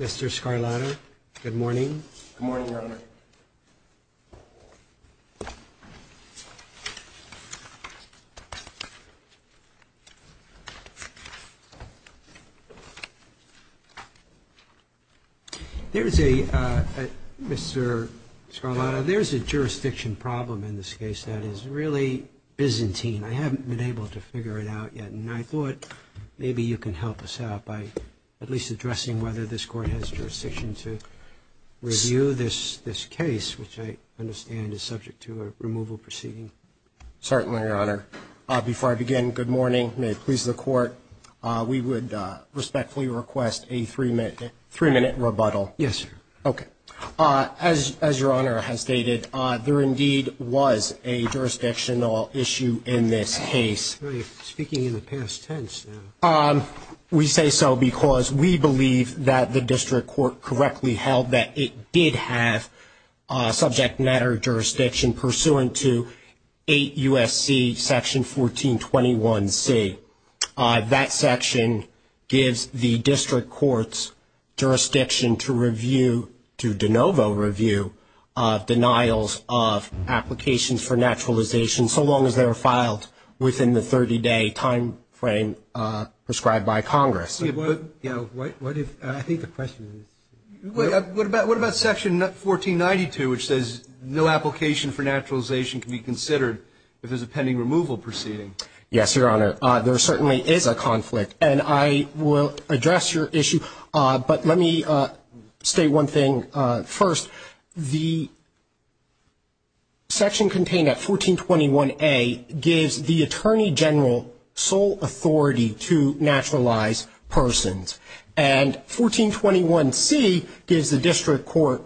Mr. Scarlatoiu, good morning. There's a jurisdiction problem in this case that is really Byzantine. I haven't been able to figure it out yet, and I thought maybe you can help us out by at least addressing whether this Court has jurisdiction to review this case, which I understand is subject to a removal proceeding. Certainly, Your Honor. Before I begin, good morning. May it please the Court. We would respectfully request a three-minute rebuttal. Yes, sir. Okay. As Your Honor has stated, there indeed was a jurisdictional issue in this case. You're speaking in the past tense now. We say so because we believe that the district court correctly held that it did have subject matter jurisdiction pursuant to 8 U.S.C. section 1421C. That section gives the district court's jurisdiction to review, to de novo review, denials of applications for naturalization so long as they are filed within the 30-day timeframe prescribed by Congress. I think the question is what about section 1492, which says no application for naturalization can be considered if there's a pending removal proceeding? Yes, Your Honor. There certainly is a conflict, and I will address your issue. But let me state one thing first. The section contained at 1421A gives the attorney general sole authority to naturalize persons, and 1421C gives the district court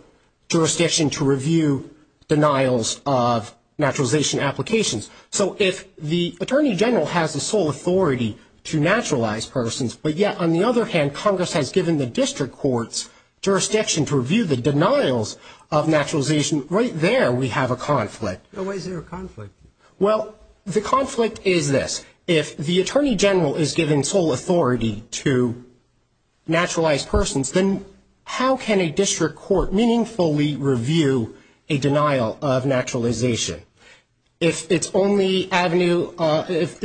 jurisdiction to review denials of naturalization applications. So if the attorney general has the sole authority to naturalize persons, but yet, on the other hand, Congress has given the district court's jurisdiction to review the denials of naturalization, right there we have a conflict. Why is there a conflict? Well, the conflict is this. If the attorney general is given sole authority to naturalize persons, then how can a district court meaningfully review a denial of naturalization? If it's only avenue, if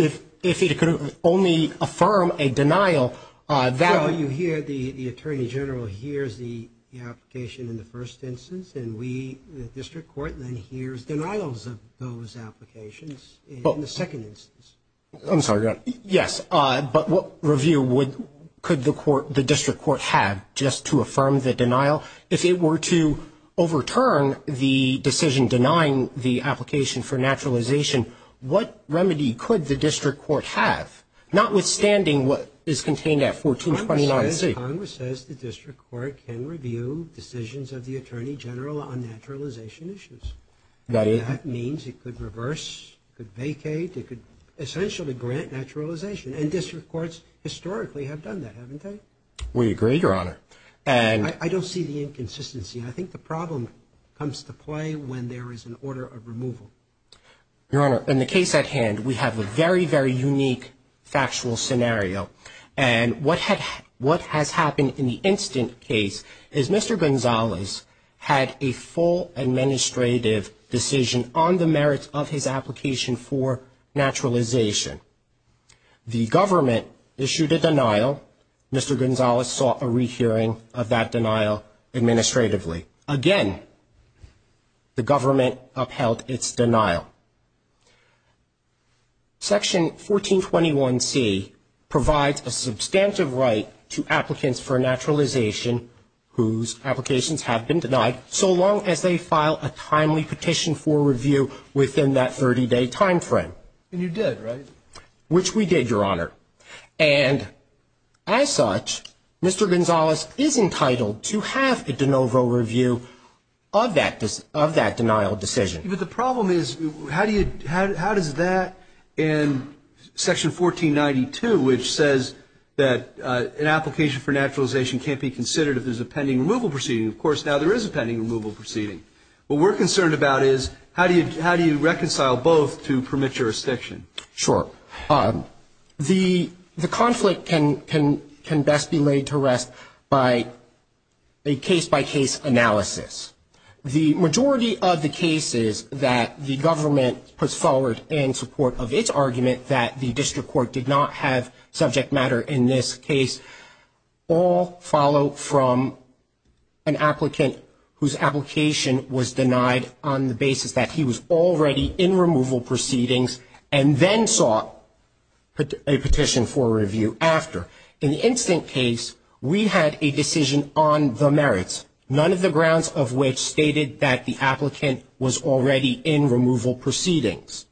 it could only affirm a denial, that would. So you hear the attorney general hears the application in the first instance, and we, the district court, then hears denials of those applications in the second instance. I'm sorry, Your Honor. Yes, but what review could the district court have just to affirm the denial? If it were to overturn the decision denying the application for naturalization, what remedy could the district court have, notwithstanding what is contained at 1421C? Congress says the district court can review decisions of the attorney general on naturalization issues. And that means it could reverse, it could vacate, it could essentially grant naturalization. And district courts historically have done that, haven't they? We agree, Your Honor. I don't see the inconsistency. I think the problem comes to play when there is an order of removal. Your Honor, in the case at hand, we have a very, very unique factual scenario. And what has happened in the instant case is Mr. Gonzalez had a full administrative decision on the merits of his application for naturalization. The government issued a denial. Mr. Gonzalez sought a rehearing of that denial administratively. Again, the government upheld its denial. Section 1421C provides a substantive right to applicants for naturalization whose applications have been denied, so long as they file a timely petition for review within that 30-day time frame. And you did, right? Which we did, Your Honor. And as such, Mr. Gonzalez is entitled to have a de novo review of that denial decision. But the problem is how does that in Section 1492, which says that an application for naturalization can't be considered if there's a pending removal proceeding. Of course, now there is a pending removal proceeding. What we're concerned about is how do you reconcile both to permit jurisdiction? Sure. The conflict can best be laid to rest by a case-by-case analysis. The majority of the cases that the government puts forward in support of its argument that the district court did not have subject matter in this case all follow from an applicant whose application was denied on the basis that he was already in removal proceedings and then sought a petition for review after. In the instant case, we had a decision on the merits, none of the grounds of which stated that the applicant was already in removal proceedings.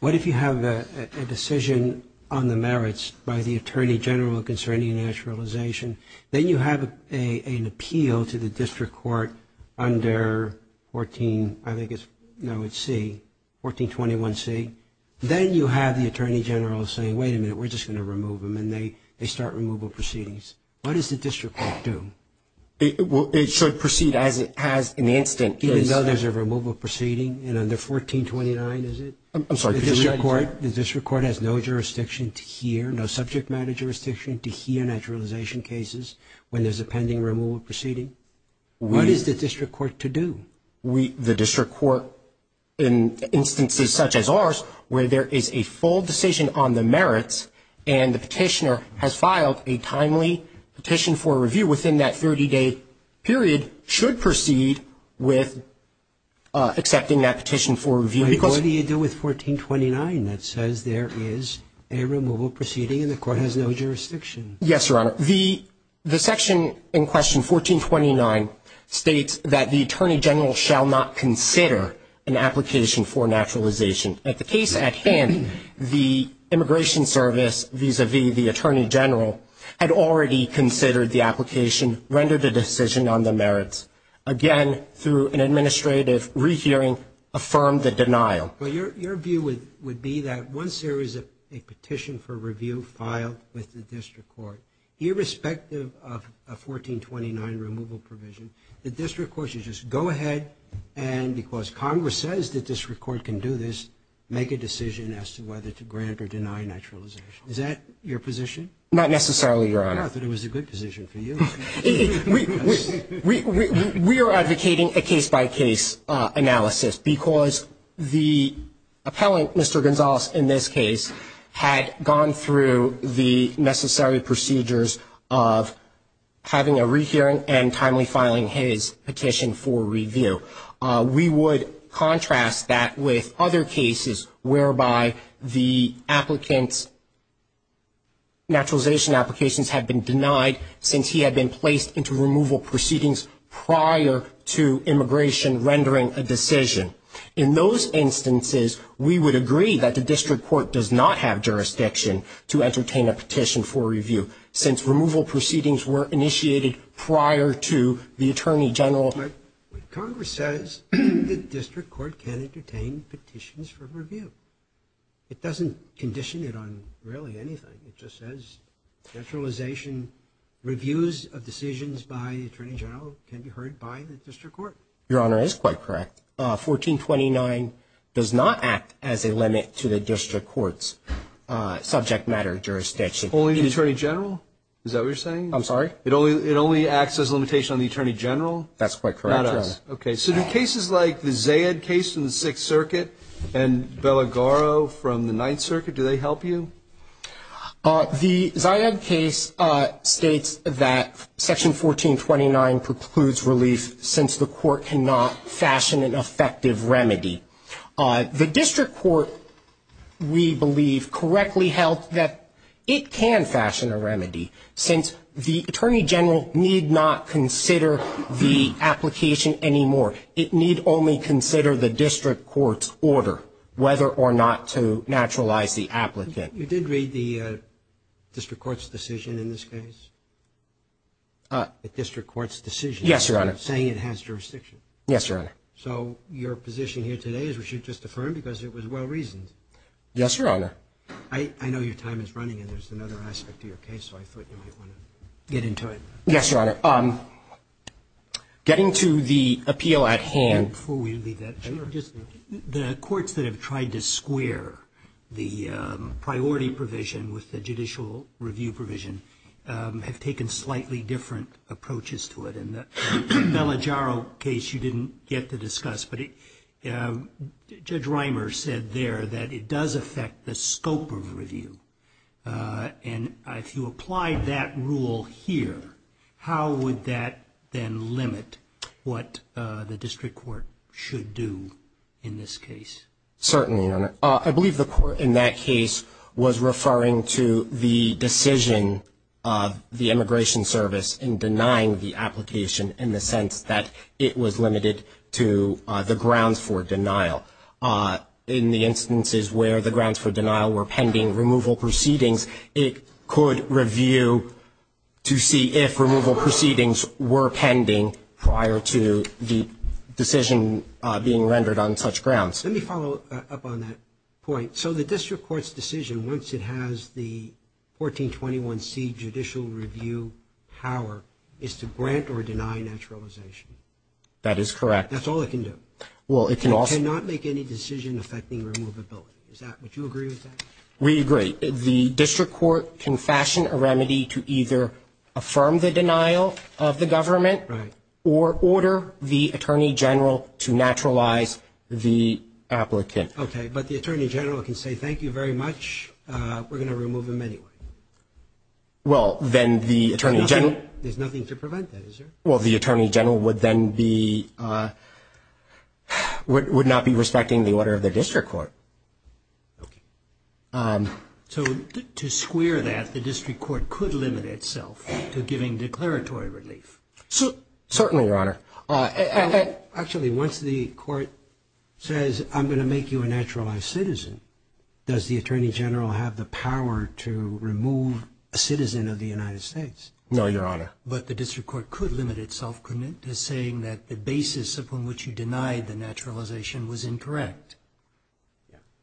What if you have a decision on the merits by the Attorney General concerning naturalization, then you have an appeal to the district court under 14, I think it's, no, it's C, 1421C, then you have the Attorney General saying, wait a minute, we're just going to remove him, and they start removal proceedings. What does the district court do? It should proceed as it has in the instant case. Even though there's a removal proceeding in under 1429, is it? I'm sorry, could you repeat that? The district court has no jurisdiction to hear, no subject matter jurisdiction to hear naturalization cases when there's a pending removal proceeding. What is the district court to do? The district court, in instances such as ours, where there is a full decision on the merits and the petitioner has filed a timely petition for review within that 30-day period, should proceed with accepting that petition for review. What do you do with 1429 that says there is a removal proceeding and the court has no jurisdiction? Yes, Your Honor. The section in question, 1429, states that the Attorney General shall not consider an application for naturalization. At the case at hand, the immigration service vis-à-vis the Attorney General had already considered the application, rendered a decision on the merits, again through an administrative rehearing, affirmed the denial. Well, your view would be that once there is a petition for review filed with the district court, irrespective of a 1429 removal provision, the district court should just go ahead and because Congress says the district court can do this, make a decision as to whether to grant or deny naturalization. Is that your position? Not necessarily, Your Honor. I thought it was a good position for you. We are advocating a case-by-case analysis because the appellant, Mr. Gonzales, in this case, had gone through the necessary procedures of having a rehearing and timely filing his petition for review. We would contrast that with other cases whereby the applicant's naturalization applications have been denied since he had been placed into removal proceedings prior to immigration rendering a decision. In those instances, we would agree that the district court does not have jurisdiction to entertain a petition for review since removal proceedings were initiated prior to the Attorney General. But Congress says the district court can entertain petitions for review. It doesn't condition it on really anything. It just says naturalization reviews of decisions by the Attorney General can be heard by the district court. Your Honor, it is quite correct. 1429 does not act as a limit to the district court's subject matter jurisdiction. Only the Attorney General? Is that what you're saying? I'm sorry? It only acts as a limitation on the Attorney General? That's quite correct, Your Honor. Okay. So do cases like the Zayed case from the Sixth Circuit and Bellagaro from the Ninth Circuit, do they help you? The Zayed case states that Section 1429 precludes relief since the court cannot fashion an effective remedy. The district court, we believe, correctly held that it can fashion a remedy since the Attorney General need not consider the application anymore. It need only consider the district court's order whether or not to naturalize the applicant. You did read the district court's decision in this case? The district court's decision? Yes, Your Honor. Saying it has jurisdiction? Yes, Your Honor. So your position here today is we should just affirm because it was well-reasoned? Yes, Your Honor. I know your time is running and there's another aspect to your case, so I thought you might want to get into it. Yes, Your Honor. Getting to the appeal at hand. Before we leave that, the courts that have tried to square the priority provision with the judicial review provision have taken slightly different approaches to it. In the Bellagaro case, you didn't get to discuss, but Judge Reimer said there that it does affect the scope of review. And if you apply that rule here, how would that then limit what the district court should do in this case? Certainly, Your Honor. I believe the court in that case was referring to the decision of the Immigration Service in denying the application in the sense that it was limited to the grounds for denial. In the instances where the grounds for denial were pending removal proceedings, it could review to see if removal proceedings were pending prior to the decision being rendered on such grounds. Let me follow up on that point. So the district court's decision, once it has the 1421C judicial review power, is to grant or deny naturalization. That is correct. That's all it can do. It cannot make any decision affecting removability. Would you agree with that? We agree. The district court can fashion a remedy to either affirm the denial of the government or order the Attorney General to naturalize the applicant. Okay. But the Attorney General can say, thank you very much. We're going to remove him anyway. Well, then the Attorney General — There's nothing to prevent that, is there? Well, the Attorney General would then be — would not be respecting the order of the district court. Okay. So to square that, the district court could limit itself to giving declaratory relief. Certainly, Your Honor. Actually, once the court says, I'm going to make you a naturalized citizen, does the Attorney General have the power to remove a citizen of the United States? No, Your Honor. But the district court could limit itself, couldn't it, to saying that the basis upon which you denied the naturalization was incorrect?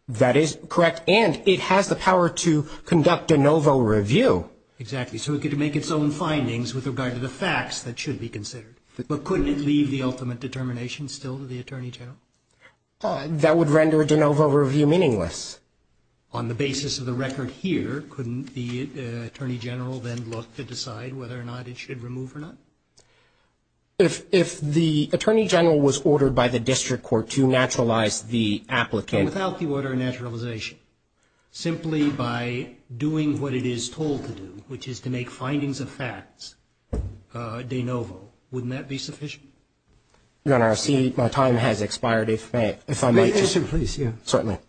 That is correct. And it has the power to conduct de novo review. Exactly. So it could make its own findings with regard to the facts that should be considered. But couldn't it leave the ultimate determination still to the Attorney General? That would render de novo review meaningless. On the basis of the record here, couldn't the Attorney General then look to decide whether or not it should remove or not? If the Attorney General was ordered by the district court to naturalize the applicant — Without the order of naturalization. Simply by doing what it is told to do, which is to make findings of facts de novo, wouldn't that be sufficient? Your Honor, I see my time has expired, if I may. Certainly.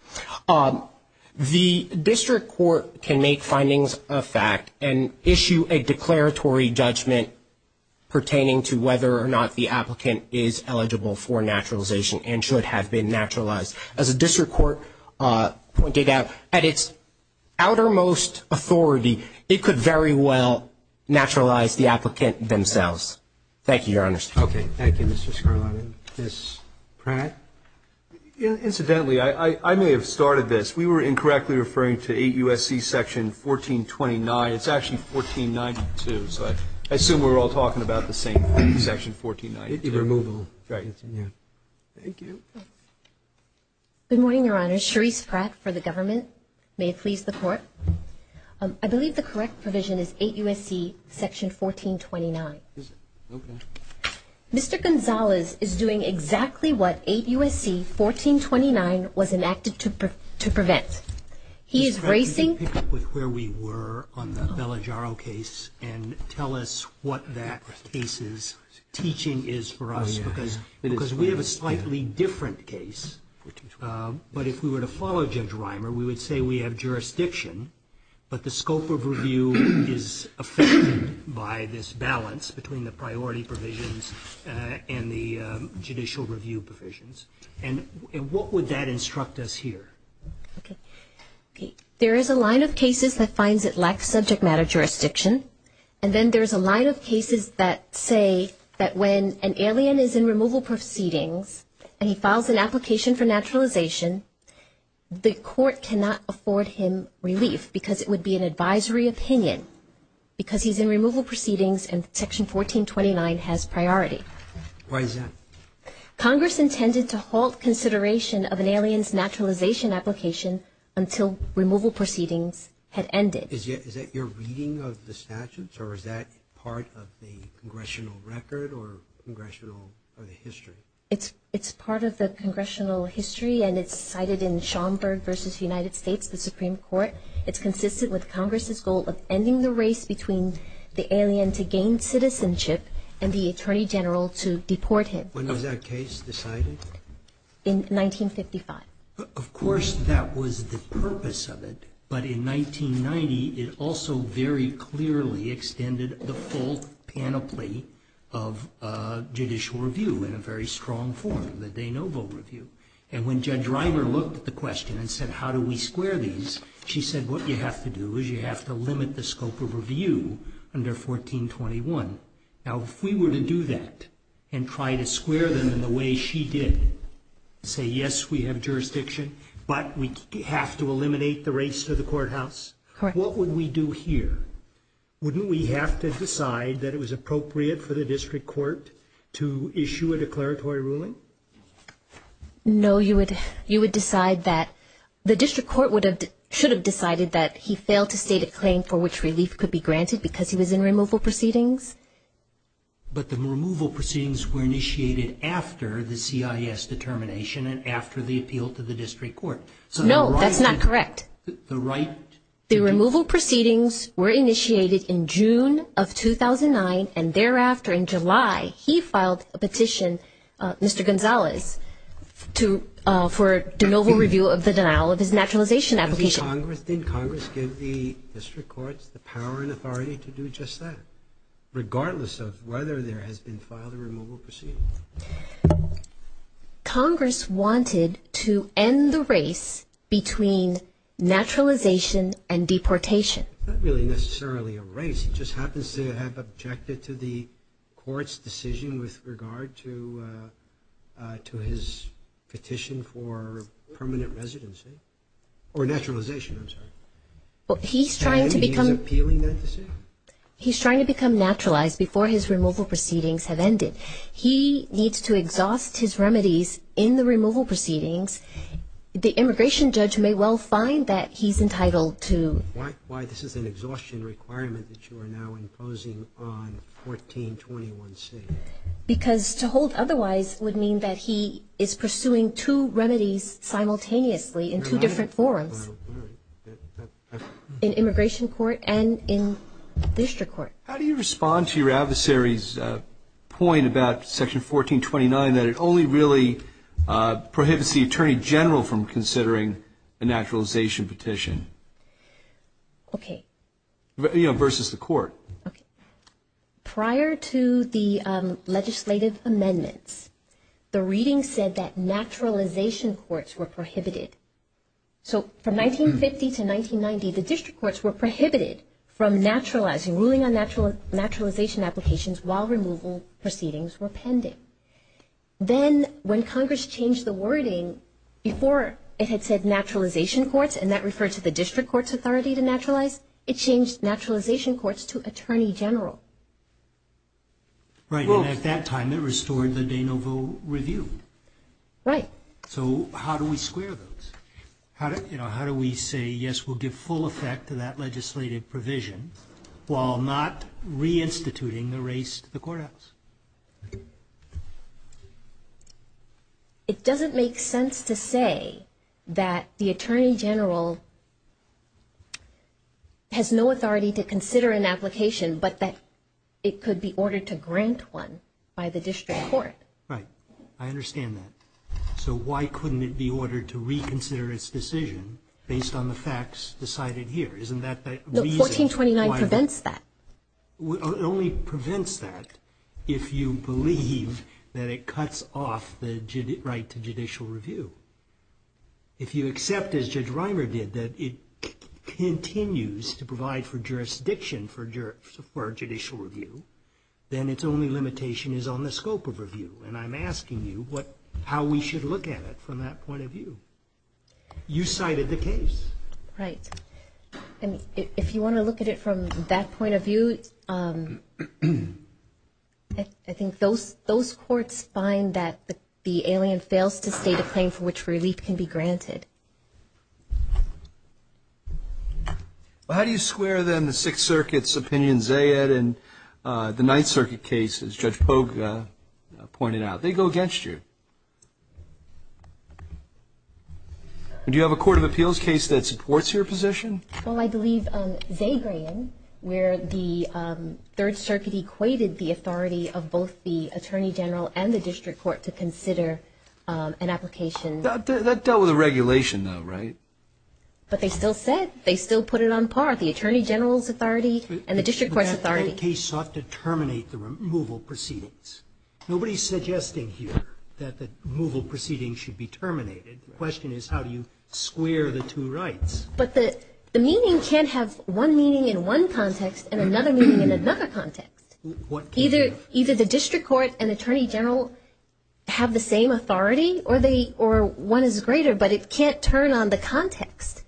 The district court can make findings of fact and issue a declaratory judgment pertaining to whether or not the applicant is eligible for naturalization and should have been naturalized. As the district court pointed out, at its outermost authority, it could very well naturalize the applicant themselves. Thank you, Your Honor. Okay. Ms. Pratt? Incidentally, I may have started this. We were incorrectly referring to 8 U.S.C. Section 1429. It's actually 1492, so I assume we're all talking about the same thing, Section 1492. The removal. Right. Thank you. Good morning, Your Honor. Cherise Pratt for the government. May it please the Court. I believe the correct provision is 8 U.S.C. Section 1429. Okay. Mr. Gonzalez is doing exactly what 8 U.S.C. 1429 was enacted to prevent. He is raising Ms. Pratt, could you pick up where we were on the Bellagiaro case and tell us what that case's teaching is for us? Oh, yes. Because we have a slightly different case, but if we were to follow Judge Reimer, we would say we have jurisdiction, but the scope of review is affected by this balance between the priority provisions and the judicial review provisions. And what would that instruct us here? Okay. There is a line of cases that finds it lacks subject matter jurisdiction, and then there's a line of cases that say that when an alien is in removal proceedings and he files an application for naturalization, the court cannot afford him relief because it would be an advisory opinion because he's in removal proceedings and Section 1429 has priority. Why is that? Congress intended to halt consideration of an alien's naturalization application until removal proceedings had ended. Is that your reading of the statutes, or is that part of the congressional record or the history? It's part of the congressional history, and it's cited in Schomburg v. United States, the Supreme Court. It's consistent with Congress's goal of ending the race between the alien to gain citizenship and the attorney general to deport him. When was that case decided? In 1955. Of course, that was the purpose of it. But in 1990, it also very clearly extended the full panoply of judicial review in a very strong form, the de novo review. And when Judge Reimer looked at the question and said, how do we square these, she said what you have to do is you have to limit the scope of review under 1421. Now, if we were to do that and try to square them in the way she did, say, yes, we have jurisdiction, but we have to eliminate the race to the courthouse, what would we do here? Wouldn't we have to decide that it was appropriate for the district court to issue a declaratory ruling? No, you would decide that the district court should have decided that he failed to state a claim for which relief could be granted because he was in removal proceedings. But the removal proceedings were initiated after the CIS determination and after the appeal to the district court. No, that's not correct. The right? The removal proceedings were initiated in June of 2009, and thereafter, in July, he filed a petition, Mr. Gonzalez, for de novo review of the denial of his naturalization application. Did Congress give the district courts the power and authority to do just that, regardless of whether there has been filed a removal proceeding? Congress wanted to end the race between naturalization and deportation. It's not really necessarily a race. It just happens to have objected to the court's decision with regard to his petition for permanent residency or naturalization, I'm sorry. He's trying to become naturalized before his removal proceedings have ended. He needs to exhaust his remedies in the removal proceedings. The immigration judge may well find that he's entitled to. Why this is an exhaustion requirement that you are now imposing on 1421C? Because to hold otherwise would mean that he is pursuing two remedies simultaneously in two different forums, in immigration court and in district court. How do you respond to your adversary's point about Section 1429, that it only really prohibits the attorney general from considering a naturalization petition? Okay. Versus the court. Okay. Prior to the legislative amendments, the reading said that naturalization courts were prohibited. So from 1950 to 1990, the district courts were prohibited from naturalizing, ruling on naturalization applications while removal proceedings were pending. Then when Congress changed the wording, before it had said naturalization courts and that referred to the district court's authority to naturalize, it changed naturalization courts to attorney general. Right. And at that time, it restored the de novo review. Right. So how do we square those? How do we say, yes, we'll give full effect to that legislative provision while not reinstituting the race to the courthouse? It doesn't make sense to say that the attorney general has no authority to consider an application but that it could be ordered to grant one by the district court. Right. I understand that. So why couldn't it be ordered to reconsider its decision based on the facts decided here? Isn't that the reason? No. 1429 prevents that. It only prevents that if you believe that it cuts off the right to judicial review. If you accept, as Judge Reimer did, that it continues to provide for jurisdiction for judicial review, then its only limitation is on the scope of review. And I'm asking you how we should look at it from that point of view. You cited the case. Right. And if you want to look at it from that point of view, I think those courts find that the alien fails to state a claim for which relief can be granted. How do you square then the Sixth Circuit's opinion, Zayed, and the Ninth Circuit case, as Judge Pogue pointed out? They go against you. Do you have a court of appeals case that supports your position? Well, I believe Zagrean, where the Third Circuit equated the authority of both the attorney general and the district court to consider an application. That dealt with the regulation, though, right? But they still said, they still put it on par, the attorney general's authority and the district court's authority. But that case sought to terminate the removal proceedings. Nobody's suggesting here that the removal proceedings should be terminated. The question is how do you square the two rights? But the meaning can't have one meaning in one context and another meaning in another context. Either the district court and attorney general have the same authority or one is greater, but it can't turn on the context.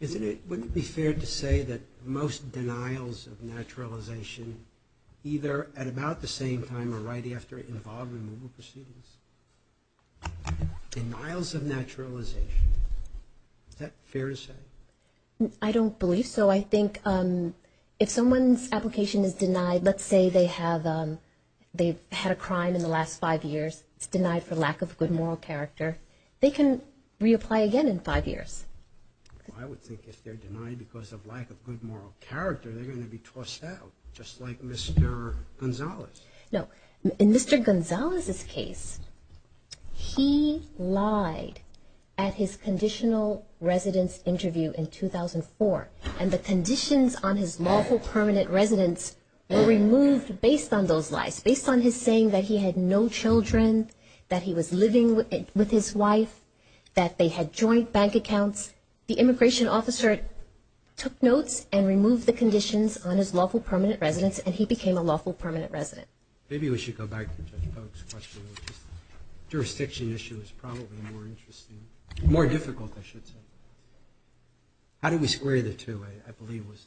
Wouldn't it be fair to say that most denials of naturalization either at about the same time or right after involvement in removal proceedings? Denials of naturalization, is that fair to say? I don't believe so. No, I think if someone's application is denied, let's say they've had a crime in the last five years, it's denied for lack of good moral character, they can reapply again in five years. I would think if they're denied because of lack of good moral character, they're going to be tossed out, just like Mr. Gonzalez. No, in Mr. Gonzalez's case, he lied at his conditional residence interview in 2004, and the conditions on his lawful permanent residence were removed based on those lies, based on his saying that he had no children, that he was living with his wife, that they had joint bank accounts. The immigration officer took notes and removed the conditions on his lawful permanent residence, and he became a lawful permanent resident. Maybe we should go back to Judge Polk's question. The jurisdiction issue is probably more interesting, more difficult, I should say. How do we square the two, I believe, was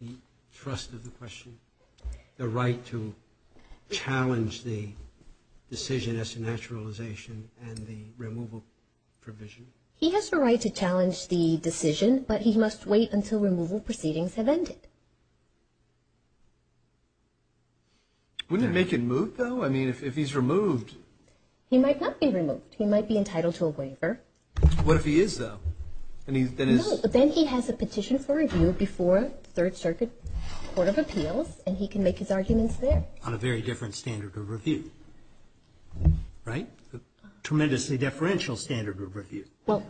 the trust of the question, the right to challenge the decision as to naturalization and the removal provision? He has the right to challenge the decision, but he must wait until removal proceedings have ended. Wouldn't it make him moved, though? I mean, if he's removed. He might not be removed. He might be entitled to a waiver. What if he is, though? No, then he has a petition for review before the Third Circuit Court of Appeals, and he can make his arguments there. On a very different standard of review, right? A tremendously deferential standard of review. Well,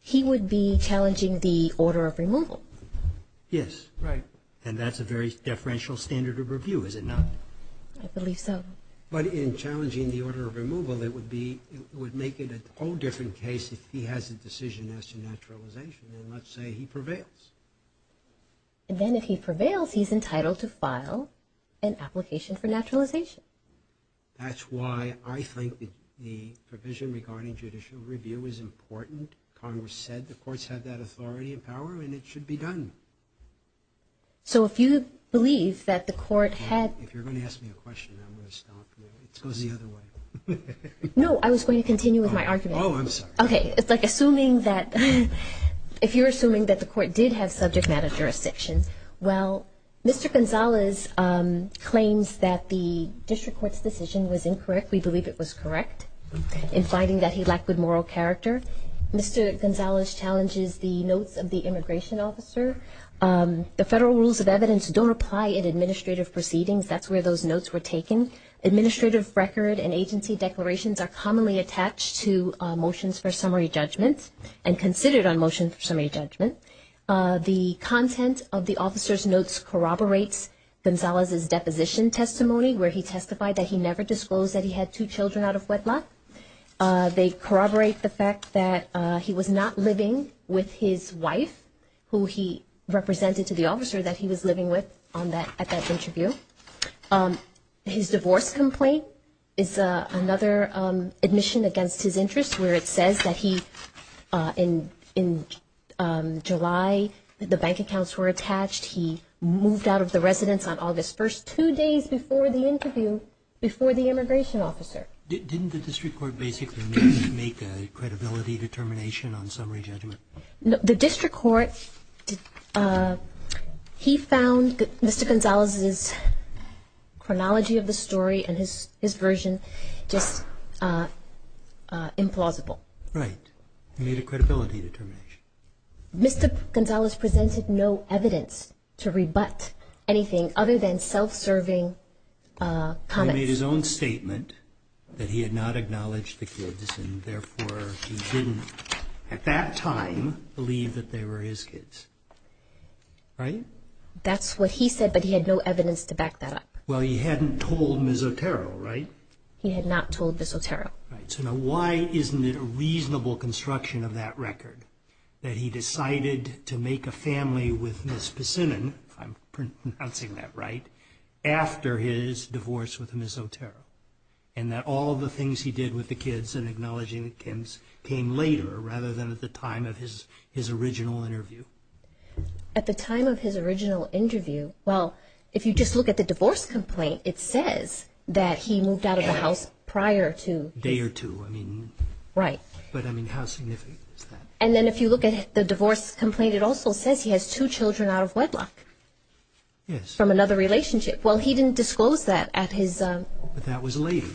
he would be challenging the order of removal. Yes. Right. And that's a very deferential standard of review, is it not? I believe so. But in challenging the order of removal, it would make it a whole different case if he has a decision as to naturalization, and let's say he prevails. Then if he prevails, he's entitled to file an application for naturalization. That's why I think the provision regarding judicial review is important. Congress said the courts have that authority and power, and it should be done. So if you believe that the court had – If you're going to ask me a question, I'm going to stop. It goes the other way. No, I was going to continue with my argument. Oh, I'm sorry. Okay. It's like assuming that – if you're assuming that the court did have subject matter jurisdictions, well, Mr. Gonzalez claims that the district court's decision was incorrect. We believe it was correct in finding that he lacked good moral character. Mr. Gonzalez challenges the notes of the immigration officer. The federal rules of evidence don't apply in administrative proceedings. That's where those notes were taken. Administrative record and agency declarations are commonly attached to motions for summary judgments and considered on motions for summary judgment. The content of the officer's notes corroborates Gonzalez's deposition testimony, where he testified that he never disclosed that he had two children out of wedlock. They corroborate the fact that he was not living with his wife, who he represented to the officer that he was living with at that interview. His divorce complaint is another admission against his interests, where it says that he, in July, the bank accounts were attached. He moved out of the residence on August 1st, two days before the interview, before the immigration officer. Didn't the district court basically make a credibility determination on summary judgment? The district court, he found Mr. Gonzalez's chronology of the story and his version just implausible. Right. He made a credibility determination. Mr. Gonzalez presented no evidence to rebut anything other than self-serving comments. He made his own statement that he had not acknowledged the kids, and therefore he didn't, at that time, believe that they were his kids. Right? That's what he said, but he had no evidence to back that up. Well, he hadn't told Ms. Otero, right? He had not told Ms. Otero. Right. So now why isn't it a reasonable construction of that record, that he decided to make a family with Ms. Pissinnen, if I'm pronouncing that right, after his divorce with Ms. Otero, and that all the things he did with the kids and acknowledging the kids came later, rather than at the time of his original interview? At the time of his original interview, well, if you just look at the divorce complaint, it says that he moved out of the house prior to... Day or two, I mean. Right. But, I mean, how significant is that? And then if you look at the divorce complaint, it also says he has two children out of wedlock. Yes. From another relationship. Well, he didn't disclose that at his... But that was later.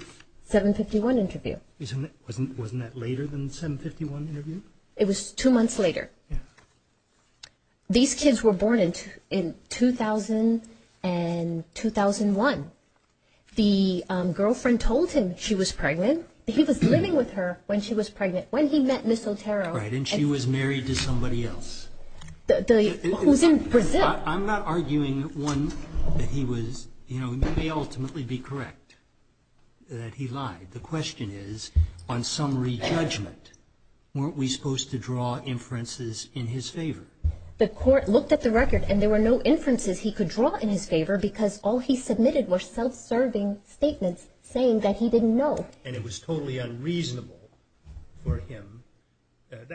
751 interview. Wasn't that later than the 751 interview? It was two months later. These kids were born in 2000 and 2001. The girlfriend told him she was pregnant. He was living with her when she was pregnant, when he met Ms. Otero. Right, and she was married to somebody else. Who's in Brazil. I'm not arguing, one, that he was, you know, may ultimately be correct, that he lied. The question is, on summary judgment, weren't we supposed to draw inferences in his favor? The court looked at the record and there were no inferences he could draw in his favor because all he submitted were self-serving statements saying that he didn't know. And it was totally unreasonable for him,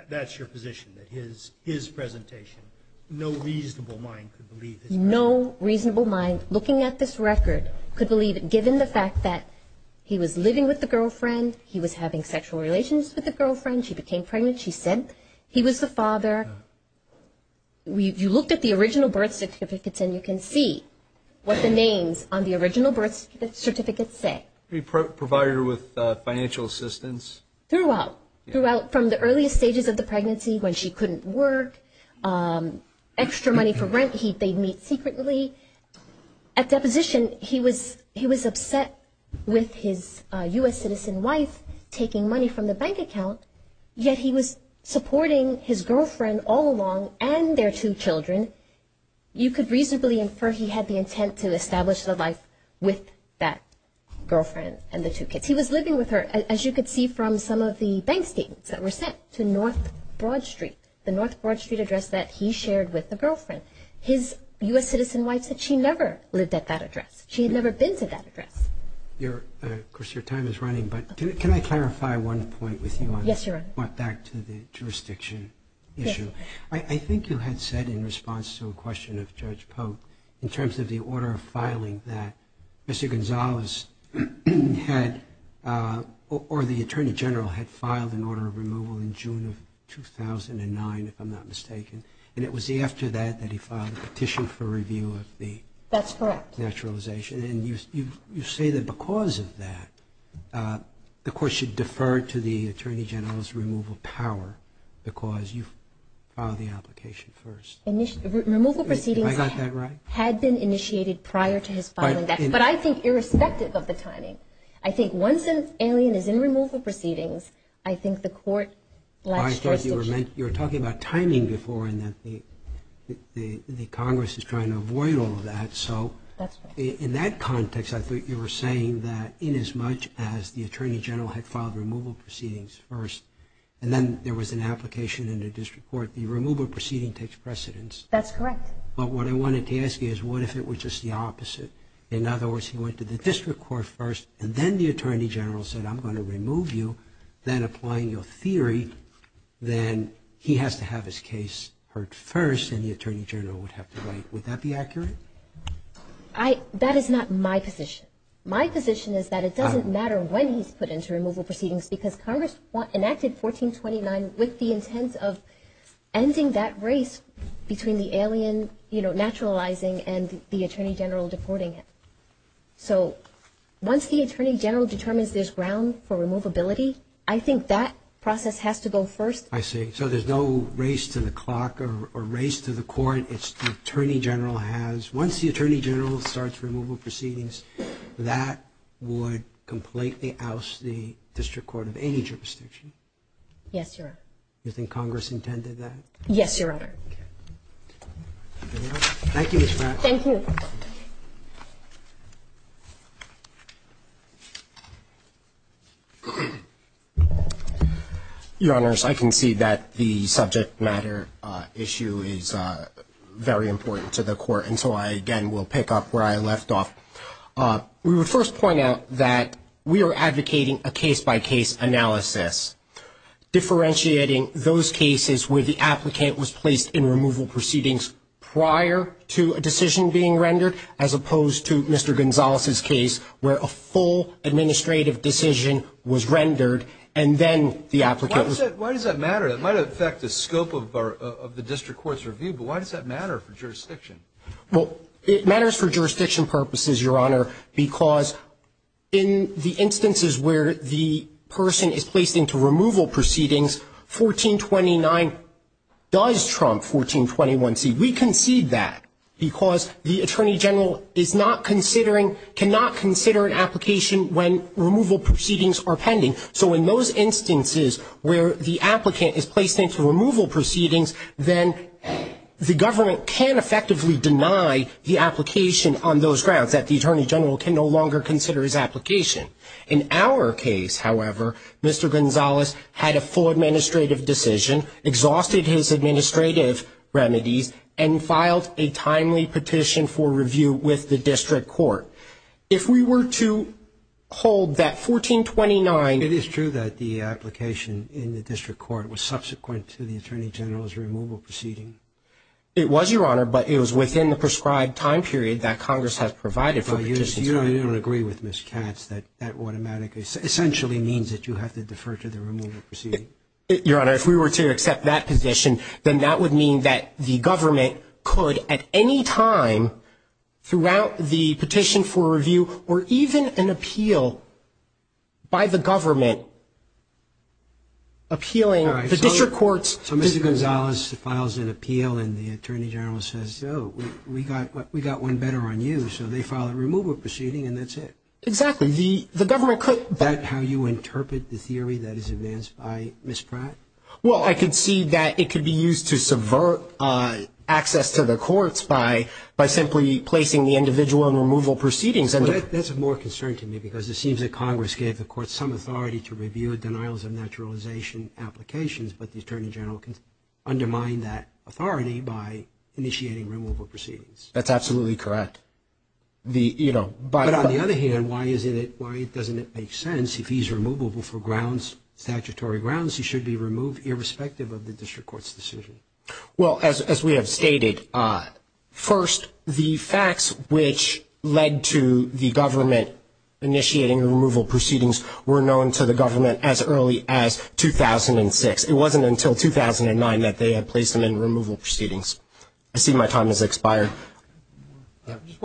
that's your position, that his presentation, no reasonable mind could believe this. No reasonable mind looking at this record could believe it, given the fact that he was living with the girlfriend, he was having sexual relations with the girlfriend, she became pregnant, she said he was the father. You looked at the original birth certificates and you can see what the names on the original birth certificates say. Provided her with financial assistance. Throughout. Throughout, from the earliest stages of the pregnancy, when she couldn't work, extra money for rent they'd meet secretly. At deposition, he was upset with his U.S. citizen wife taking money from the bank account, yet he was supporting his girlfriend all along and their two children. You could reasonably infer he had the intent to establish the life with that girlfriend and the two kids. He was living with her, as you could see from some of the bank statements that were sent to North Broad Street, the North Broad Street address that he shared with the girlfriend. His U.S. citizen wife said she never lived at that address. She had never been to that address. Of course, your time is running, but can I clarify one point with you? Yes, Your Honor. Back to the jurisdiction issue. I think you had said in response to a question of Judge Polk, in terms of the order of filing that Mr. Gonzalez had, or the Attorney General had filed an order of removal in June of 2009, if I'm not mistaken, and it was after that that he filed a petition for review of the naturalization. That's correct. And you say that because of that, the Court should defer to the Attorney General's removal power, because you filed the application first. Removal proceedings had been initiated prior to his filing, but I think irrespective of the timing. I think once an alien is in removal proceedings, I think the Court lacks jurisdiction. I thought you were talking about timing before and that the Congress is trying to avoid all of that. So in that context, I thought you were saying that in as much as the Attorney General had filed removal proceedings first and then there was an application in the District Court, the removal proceeding takes precedence. That's correct. But what I wanted to ask you is what if it were just the opposite? In other words, he went to the District Court first and then the Attorney General said, I'm going to remove you, then applying your theory, then he has to have his case heard first and the Attorney General would have to wait. Would that be accurate? That is not my position. My position is that it doesn't matter when he's put into removal proceedings because Congress enacted 1429 with the intent of ending that race between the alien naturalizing and the Attorney General deporting it. So once the Attorney General determines there's ground for removability, I think that process has to go first. I see. So there's no race to the clock or race to the court. Once the Attorney General starts removal proceedings, that would completely oust the District Court of any jurisdiction. Yes, Your Honor. You think Congress intended that? Yes, Your Honor. Thank you, Ms. Mack. Thank you. Your Honors, I can see that the subject matter issue is very important to the court, and so I, again, will pick up where I left off. We would first point out that we are advocating a case-by-case analysis, differentiating those cases where the applicant was placed in removal proceedings prior to a decision being written as opposed to Mr. Gonzalez's case where a full administrative decision was rendered and then the applicant was. Why does that matter? It might affect the scope of the District Court's review, but why does that matter for jurisdiction? Well, it matters for jurisdiction purposes, Your Honor, because in the instances where the person is placed into removal proceedings, 1429 does trump 1421C. We concede that because the Attorney General is not considering, cannot consider an application when removal proceedings are pending. So in those instances where the applicant is placed into removal proceedings, then the government can effectively deny the application on those grounds, that the Attorney General can no longer consider his application. In our case, however, Mr. Gonzalez had a full administrative decision, exhausted his administrative remedies, and filed a timely petition for review with the District Court. If we were to hold that 1429. It is true that the application in the District Court was subsequent to the Attorney General's removal proceeding? It was, Your Honor, but it was within the prescribed time period that Congress has provided for the petition. So you don't agree with Ms. Katz that that automatically, essentially means that you have to defer to the removal proceeding? Your Honor, if we were to accept that position, then that would mean that the government could at any time throughout the petition for review or even an appeal by the government appealing the District Court's decision. So Mr. Gonzalez files an appeal and the Attorney General says, oh, we got one better on you, so they file a removal proceeding and that's it? Exactly. The government could. Is that how you interpret the theory that is advanced by Ms. Pratt? Well, I could see that it could be used to subvert access to the courts by simply placing the individual in removal proceedings. That's of more concern to me because it seems that Congress gave the courts some authority to review denials of naturalization applications, but the Attorney General undermined that authority by initiating removal proceedings. That's absolutely correct. But on the other hand, why doesn't it make sense if he's removable for statutory grounds, he should be removed irrespective of the District Court's decision? Well, as we have stated, first, the facts which led to the government initiating removal proceedings were known to the government as early as 2006. It wasn't until 2009 that they had placed him in removal proceedings. I see my time has expired. Just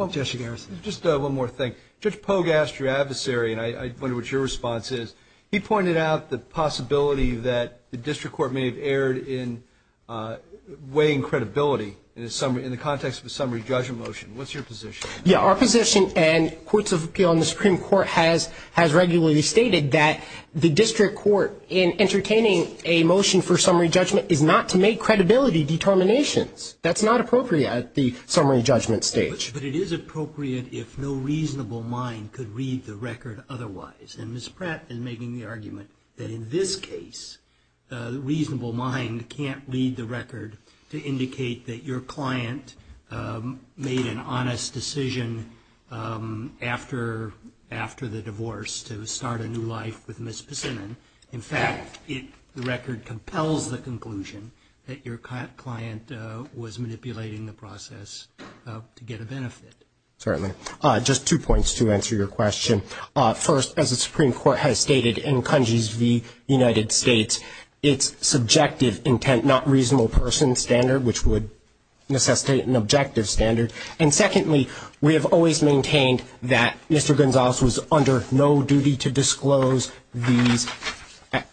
one more thing. Judge Pogue asked your adversary, and I wonder what your response is. He pointed out the possibility that the District Court may have erred in weighing credibility in the context of a summary judgment motion. What's your position? Yeah, our position and courts of appeal in the Supreme Court has regularly stated that the District Court, in entertaining a motion for summary judgment, is not to make credibility determinations. That's not appropriate at the summary judgment stage. But it is appropriate if no reasonable mind could read the record otherwise. And Ms. Pratt is making the argument that in this case, a reasonable mind can't read the record to indicate that your client made an honest decision after the divorce to start a new life with Ms. Passinan. In fact, the record compels the conclusion that your client was manipulating the process to get a benefit. Certainly. Just two points to answer your question. First, as the Supreme Court has stated in Cungie's v. United States, it's subjective intent, not reasonable person standard, which would necessitate an objective standard. And secondly, we have always maintained that Mr. Gonzales was under no duty to disclose these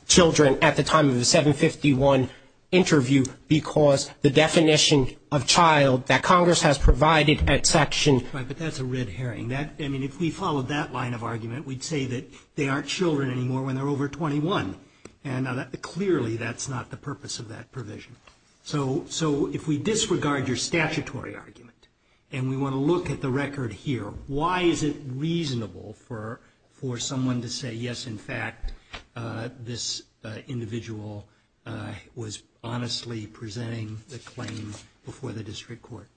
children at the time of the 751 interview because the definition of child that Congress has provided at Section Right, but that's a red herring. I mean, if we followed that line of argument, we'd say that they aren't children anymore when they're over 21. And clearly, that's not the purpose of that provision. So if we disregard your statutory argument and we want to look at the record here, why is it reasonable for someone to say, yes, in fact, this individual was honestly presenting the claim before the district court?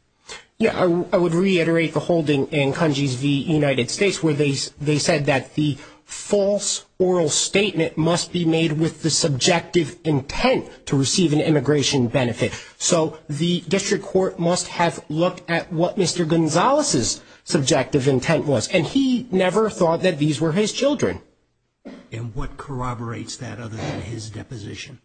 I would reiterate the holding in Cungie's v. United States where they said that the false oral statement must be made with the subjective intent to receive an immigration benefit. So the district court must have looked at what Mr. Gonzales' subjective intent was. And he never thought that these were his children. And what corroborates that other than his deposition?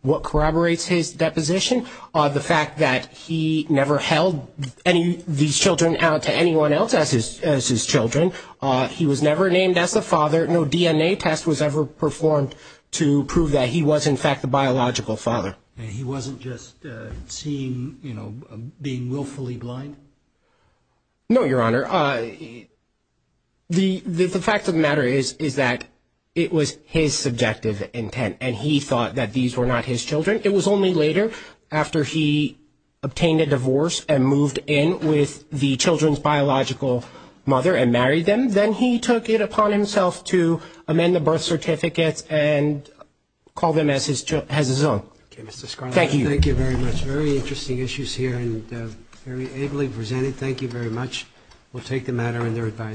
What corroborates his deposition? The fact that he never held these children out to anyone else as his children. He was never named as a father. No DNA test was ever performed to prove that he was, in fact, a biological father. He wasn't just seen, you know, being willfully blind? No, Your Honor. The fact of the matter is that it was his subjective intent, and he thought that these were not his children. It was only later, after he obtained a divorce and moved in with the children's biological mother and married them, then he took it upon himself to amend the birth certificates and call them as his own. Thank you. Thank you very much. Very interesting issues here and very ably presented. Thank you very much. We'll take the matter under advisory.